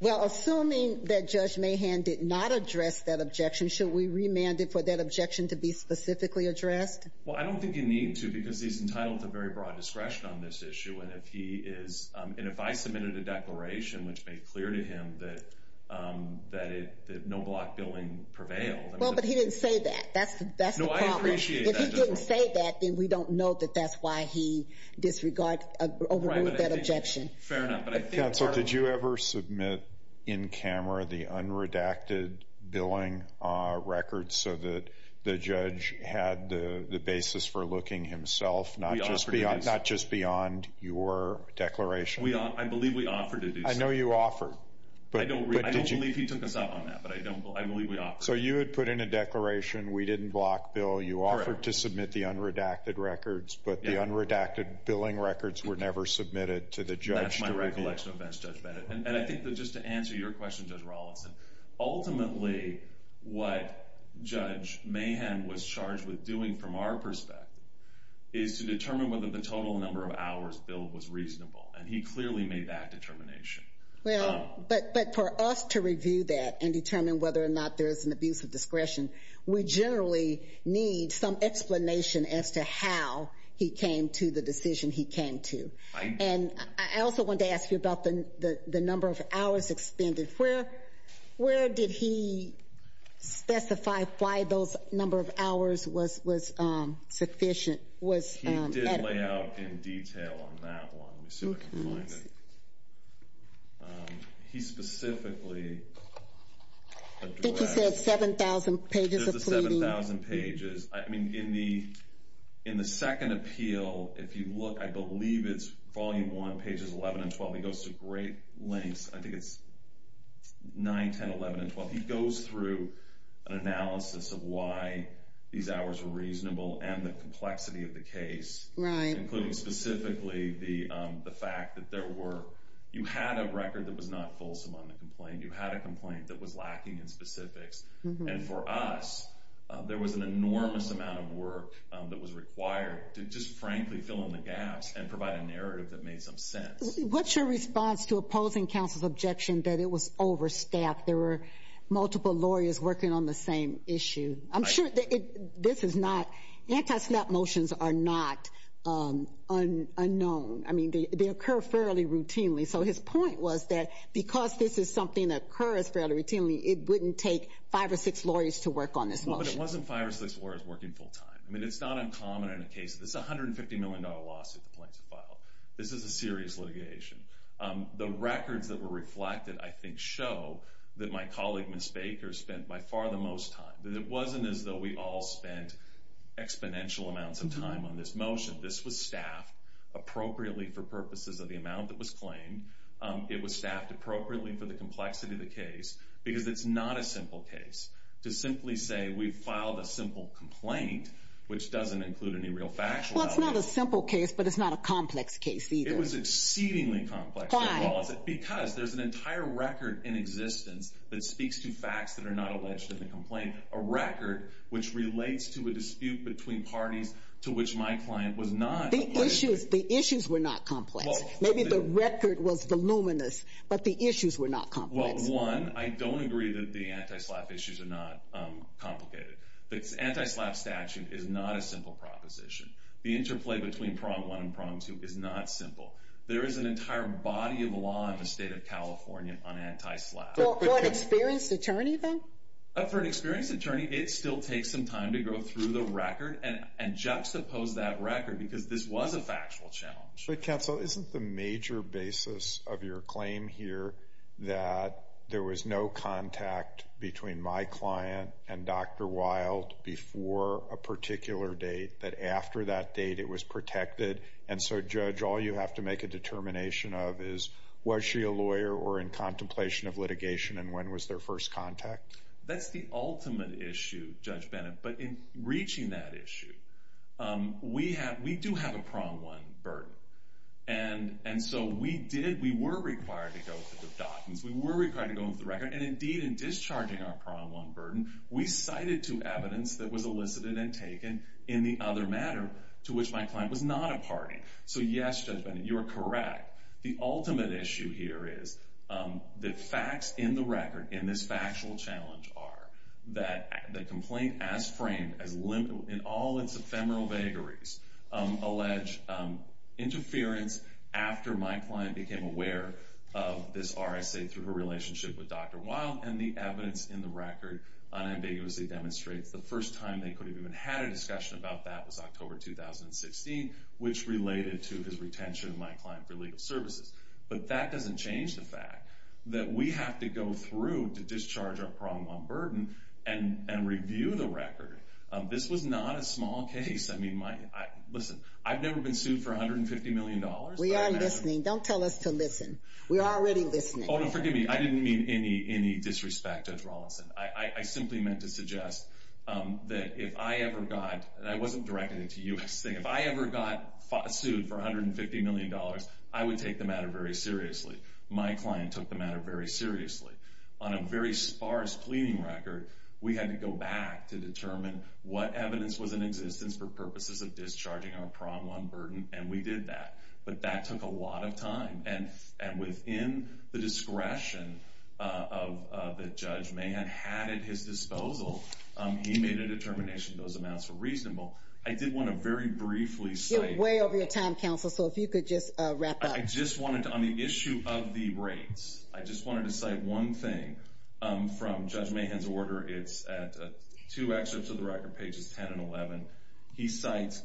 Well, assuming that Judge Mahan did not address that objection, should we remand it for that objection to be specifically addressed? Well, I don't think you need to because he's entitled to very broad discretion on this issue. And if he is – and if I submitted a declaration which made clear to him that no block billing prevailed – Well, but he didn't say that. That's the problem. No, I appreciate that. If he didn't say that, then we don't know that that's why he disregarded – overruled that objection. Fair enough. Counsel, did you ever submit in camera the unredacted billing records so that the judge had the basis for looking himself, not just beyond your declaration? I believe we offered to do so. I know you offered. I don't believe he took us up on that, but I believe we offered. So you had put in a declaration, we didn't block bill. You offered to submit the unredacted records, but the unredacted billing records were never submitted to the judge directly. And I think that just to answer your question, Judge Rawlinson, ultimately what Judge Mahan was charged with doing from our perspective is to determine whether the total number of hours billed was reasonable. And he clearly made that determination. Well, but for us to review that and determine whether or not there is an abuse of discretion, we generally need some explanation as to how he came to the decision he came to. And I also wanted to ask you about the number of hours expended. Where did he specify why those number of hours was sufficient? He did lay out in detail on that one. Let me see if I can find it. He specifically addressed... I think he said 7,000 pages of pleading. Just the 7,000 pages. I mean, in the second appeal, if you look, I believe it's volume one, pages 11 and 12. He goes to great lengths. I think it's 9, 10, 11, and 12. He goes through an analysis of why these hours were reasonable and the complexity of the case. Right. Including specifically the fact that you had a record that was not fulsome on the complaint. You had a complaint that was lacking in specifics. And for us, there was an enormous amount of work that was required to just frankly fill in the gaps and provide a narrative that made some sense. What's your response to opposing counsel's objection that it was overstaffed? There were multiple lawyers working on the same issue. I'm sure this is not... Anti-snap motions are not unknown. I mean, they occur fairly routinely. So his point was that because this is something that occurs fairly routinely, it wouldn't take five or six lawyers to work on this motion. But it wasn't five or six lawyers working full-time. I mean, it's not uncommon in a case. This is a $150 million lawsuit the plaintiff filed. This is a serious litigation. The records that were reflected, I think, show that my colleague, Ms. Baker, spent by far the most time. It wasn't as though we all spent exponential amounts of time on this motion. This was staffed appropriately for purposes of the amount that was claimed. It was staffed appropriately for the complexity of the case because it's not a simple case. To simply say we filed a simple complaint, which doesn't include any real factual evidence... Well, it's not a simple case, but it's not a complex case either. It was exceedingly complex. Why? Because there's an entire record in existence that speaks to facts that are not alleged in the complaint, a record which relates to a dispute between parties to which my client was not... The issues were not complex. Maybe the record was voluminous, but the issues were not complex. Well, one, I don't agree that the anti-SLAPP issues are not complicated. The anti-SLAPP statute is not a simple proposition. The interplay between Prom 1 and Prom 2 is not simple. There is an entire body of law in the state of California on anti-SLAPP. For an experienced attorney, though? For an experienced attorney, it still takes some time to go through the record and juxtapose that record because this was a factual challenge. Counsel, isn't the major basis of your claim here that there was no contact between my client and Dr. Wild before a particular date, that after that date it was protected, and so, Judge, all you have to make a determination of is, was she a lawyer or in contemplation of litigation, and when was their first contact? That's the ultimate issue, Judge Bennett, but in reaching that issue, we do have a Prom 1 burden, and so we were required to go through the documents, we were required to go through the record, and indeed, in discharging our Prom 1 burden, we cited two evidence that was elicited and taken in the other matter to which my client was not a party. So, yes, Judge Bennett, you are correct. The ultimate issue here is that facts in the record in this factual challenge are that the complaint, as framed in all its ephemeral vagaries, allege interference after my client became aware of this RSA through her relationship with Dr. Wild, and the evidence in the record unambiguously demonstrates the first time they could have even had a discussion about that was October 2016, which related to his retention of my client for legal services. But that doesn't change the fact that we have to go through to discharge our Prom 1 burden and review the record. This was not a small case. I mean, listen, I've never been sued for $150 million. We are listening. Don't tell us to listen. We're already listening. Oh, no, forgive me. I didn't mean any disrespect, Judge Rawlinson. I simply meant to suggest that if I ever got, and I wasn't directing it to you, if I ever got sued for $150 million, I would take the matter very seriously. My client took the matter very seriously. On a very sparse pleading record, we had to go back to determine what evidence was in existence for purposes of discharging our Prom 1 burden, and we did that, but that took a lot of time. And within the discretion that Judge Mahan had at his disposal, he made a determination those amounts were reasonable. I did want to very briefly say— You're way over your time, counsel, so if you could just wrap up. I just wanted to, on the issue of the rates, I just wanted to cite one thing from Judge Mahan's order. It's at two excerpts of the record, pages 10 and 11. He cites,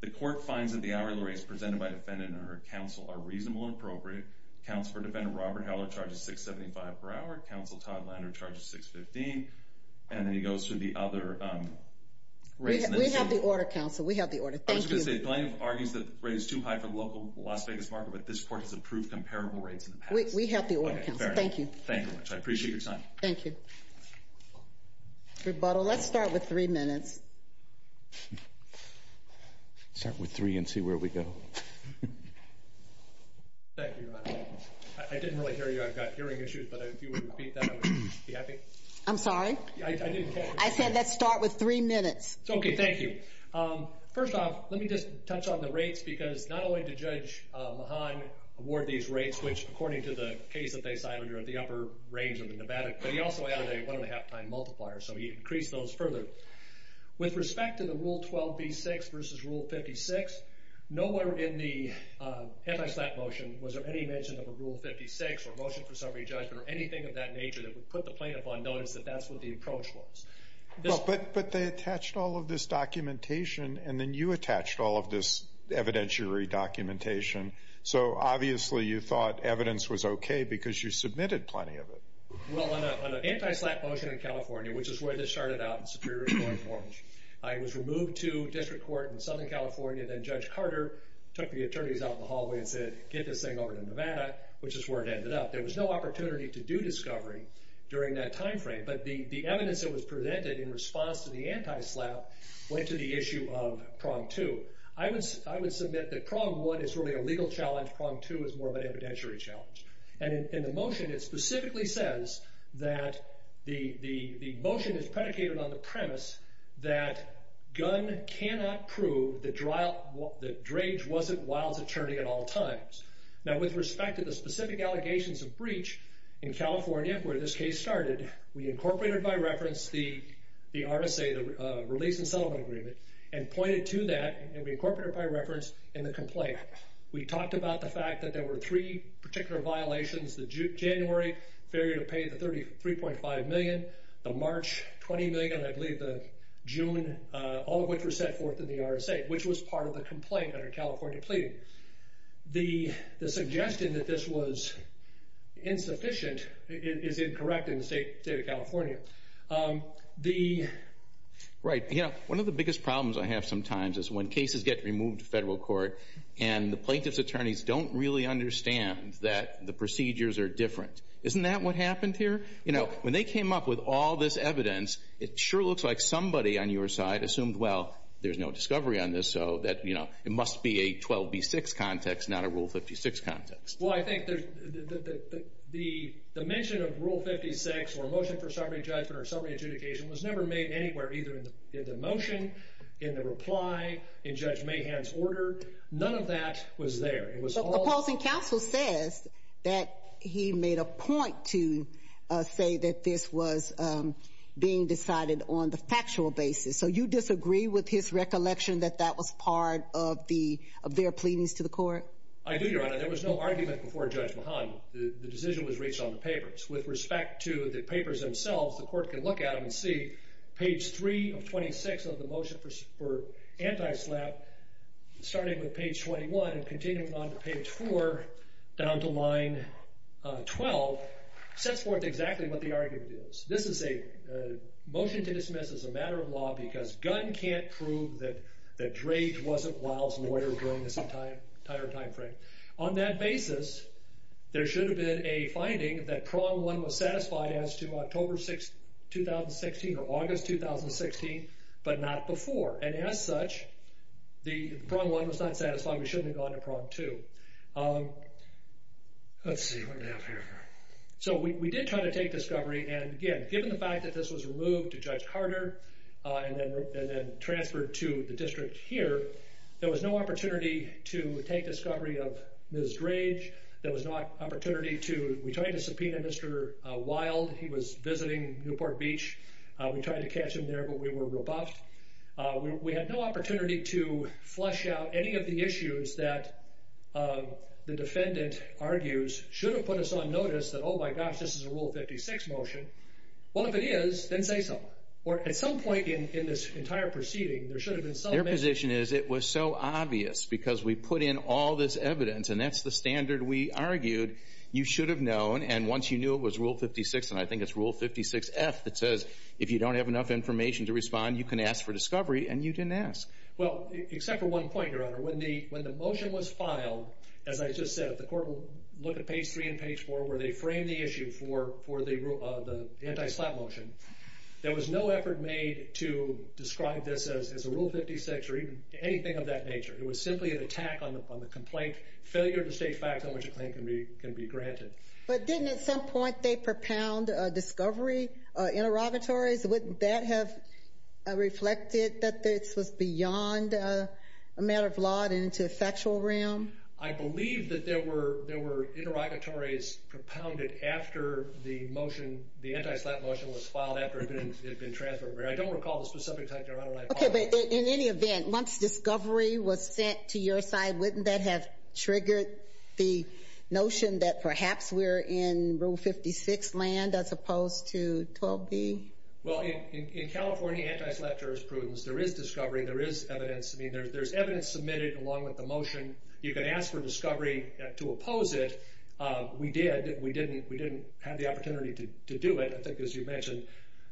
the court finds that the hourly rates presented by defendant and her counsel are reasonable and appropriate. Counsel for defendant Robert Howler charges $6.75 per hour. Counsel Todd Lander charges $6.15. And then he goes through the other rates. We have the order, counsel. We have the order. Thank you. The plaintiff argues that the rate is too high for the local Las Vegas market, but this court has approved comparable rates in the past. We have the order, counsel. Thank you. Thank you very much. I appreciate your time. Thank you. Rebuttal. Let's start with three minutes. Start with three and see where we go. Thank you, Your Honor. I didn't really hear you. I've got hearing issues, but if you would repeat that, I would be happy. I'm sorry? I said let's start with three minutes. Okay. Thank you. First off, let me just touch on the rates because not only did Judge Mahan award these rates, which according to the case that they cited are at the upper range of the Nevada, but he also added a one-and-a-half time multiplier, so he increased those further. With respect to the Rule 12b-6 versus Rule 56, nowhere in the anti-slap motion was there any mention of a Rule 56 or a motion for summary judgment or anything of that nature that would put the plaintiff on notice that that's what the approach was. But they attached all of this documentation, and then you attached all of this evidentiary documentation, so obviously you thought evidence was okay because you submitted plenty of it. Well, on an anti-slap motion in California, which is where this started out, in Superior Court Orange, I was removed to district court in Southern California, and then Judge Carter took the attorneys out in the hallway and said, get this thing over to Nevada, which is where it ended up. There was no opportunity to do discovery during that time frame, but the evidence that was presented in response to the anti-slap went to the issue of Prong 2. I would submit that Prong 1 is really a legal challenge. Prong 2 is more of an evidentiary challenge. In the motion, it specifically says that the motion is predicated on the premise that Gunn cannot prove that Drage wasn't Wilde's attorney at all times. Now, with respect to the specific allegations of breach in California, where this case started, we incorporated by reference the RSA, the Release and Settlement Agreement, and pointed to that, and we incorporated it by reference in the complaint. We talked about the fact that there were three particular violations, the January failure to pay the $33.5 million, the March $20 million, and I believe the June, all of which were set forth in the RSA, which was part of the complaint under California pleading. The suggestion that this was insufficient is incorrect in the state of California. Right. One of the biggest problems I have sometimes is when cases get removed to federal court and the plaintiff's attorneys don't really understand that the procedures are different. Isn't that what happened here? When they came up with all this evidence, it sure looks like somebody on your side assumed, well, there's no discovery on this, so it must be a 12B6 context, not a Rule 56 context. Well, I think the mention of Rule 56 or a motion for summary judgment or summary adjudication was never made anywhere either in the motion, in the reply, in Judge Mahan's order. None of that was there. The opposing counsel says that he made a point to say that this was being decided on the factual basis, so you disagree with his recollection that that was part of their pleadings to the court? I do, Your Honor. There was no argument before Judge Mahan. The decision was reached on the papers. With respect to the papers themselves, the court can look at them and see page 3 of 26 of the motion for anti-SLAPP starting with page 21 and continuing on to page 4 down to line 12 sets forth exactly what the argument is. This is a motion to dismiss as a matter of law because Gunn can't prove that Drage wasn't Wiles' lawyer during this entire time frame. On that basis, there should have been a finding that Prong 1 was satisfied as to October 2016 or August 2016, but not before, and as such, if Prong 1 was not satisfied, we shouldn't have gone to Prong 2. Let's see what we have here. We did try to take discovery, and again, given the fact that this was removed to Judge Carter and then transferred to the district here, there was no opportunity to take discovery of Ms. Drage. There was no opportunity to subpoena Mr. Wild. He was visiting Newport Beach. We tried to catch him there, but we were rebuffed. We had no opportunity to flush out any of the issues that the defendant argues should have put us on notice that, oh, my gosh, this is a Rule 56 motion. Well, if it is, then say so. Or at some point in this entire proceeding, there should have been some evidence. Your position is it was so obvious because we put in all this evidence, and that's the standard we argued you should have known, and once you knew it was Rule 56, and I think it's Rule 56F that says if you don't have enough information to respond, you can ask for discovery, and you didn't ask. Well, except for one point, Your Honor. When the motion was filed, as I just said, the court will look at page 3 and page 4 where they frame the issue for the anti-slap motion. There was no effort made to describe this as a Rule 56 or anything of that nature. It was simply an attack on the complaint, failure to state facts on which a claim can be granted. But didn't at some point they propound discovery interrogatories? Wouldn't that have reflected that this was beyond a matter of law and into a factual realm? I believe that there were interrogatories propounded after the motion, the anti-slap motion was filed after it had been transferred. I don't recall the specific time, Your Honor. Okay, but in any event, once discovery was sent to your side, wouldn't that have triggered the notion that perhaps we're in Rule 56 land as opposed to 12B? Well, in California anti-slap jurisprudence, there is discovery, there is evidence. I mean, there's evidence submitted along with the motion. You can ask for discovery to oppose it. We did. We didn't have the opportunity to do it. I think, as you mentioned,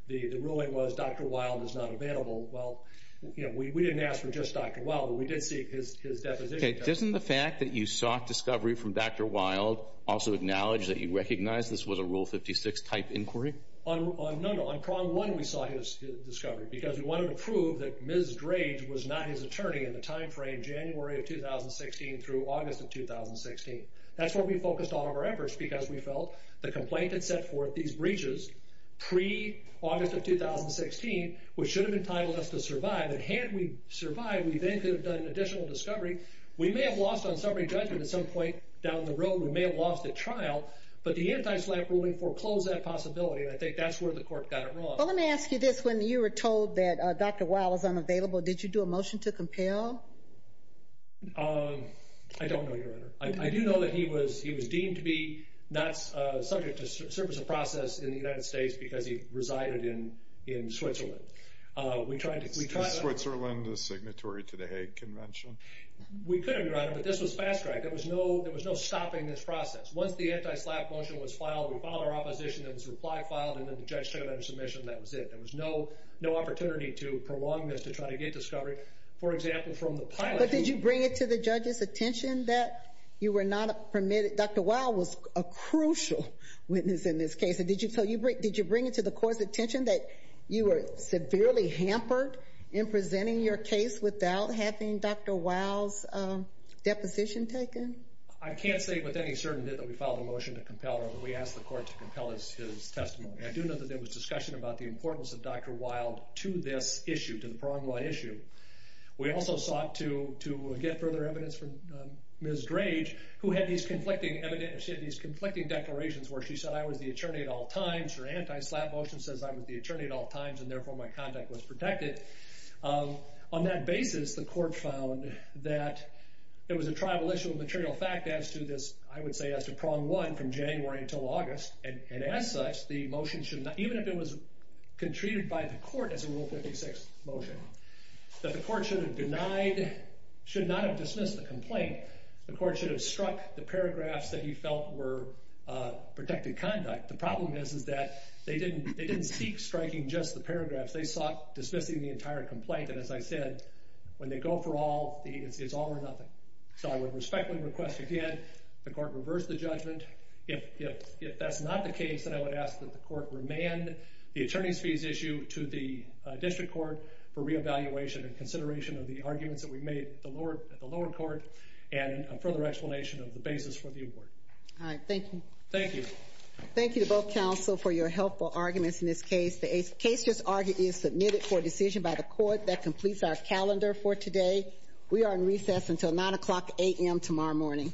the ruling was Dr. Wild is not available. We didn't ask for just Dr. Wild, but we did seek his deposition. Okay, doesn't the fact that you sought discovery from Dr. Wild also acknowledge that you recognize this was a Rule 56 type inquiry? No, no. On Prong 1, we sought his discovery because we wanted to prove that Ms. Drage was not his attorney in the time frame January of 2016 through August of 2016. That's where we focused all of our efforts because we felt the complaint had set forth these breaches pre-August of 2016, which should have entitled us to survive. And had we survived, we then could have done an additional discovery. We may have lost on summary judgment at some point down the road. We may have lost at trial. But the anti-slap ruling foreclosed that possibility, and I think that's where the court got it wrong. Well, let me ask you this. When you were told that Dr. Wild was unavailable, did you do a motion to compel? I don't know, Your Honor. I do know that he was deemed to be not subject to service of process in the United States because he resided in Switzerland. Was Switzerland the signatory to the Hague Convention? We could have, Your Honor, but this was fast track. There was no stopping this process. Once the anti-slap motion was filed, we filed our opposition, then this reply filed, and then the judge took it under submission, and that was it. There was no opportunity to prolong this to try to get discovery. For example, from the pilot... But did you bring it to the judge's attention that you were not permitted? Dr. Wild was a crucial witness in this case. Did you bring it to the court's attention that you were severely hampered in presenting your case without having Dr. Wild's deposition taken? I can't say with any certainty that we filed a motion to compel, but we asked the court to compel his testimony. I do know that there was discussion about the importance of Dr. Wild to this issue, to the Prong Law issue. We also sought to get further evidence from Ms. Grage, who had these conflicting declarations where she said, I was the attorney at all times. Her anti-slap motion says I was the attorney at all times, and therefore my conduct was protected. On that basis, the court found that it was a tribal issue of material fact as to this, I would say, as to Prong 1 from January until August, and as such, the motion should not... Even if it was treated by the court as a Rule 56 motion, that the court should have denied, should not have dismissed the complaint. The court should have struck the paragraphs that he felt were protected conduct. The problem is that they didn't seek striking just the paragraphs. They sought dismissing the entire complaint, and as I said, when they go for all, it's all or nothing. So I would respectfully request again the court reverse the judgment. If that's not the case, then I would ask that the court remand the attorney's fees issue to the district court for reevaluation and consideration of the arguments that we made at the lower court and a further explanation of the basis for the award. All right. Thank you. Thank you. Thank you to both counsel for your helpful arguments in this case. The case just argued is submitted for decision by the court that completes our calendar for today. We are in recess until 9 o'clock a.m. tomorrow morning. All rise.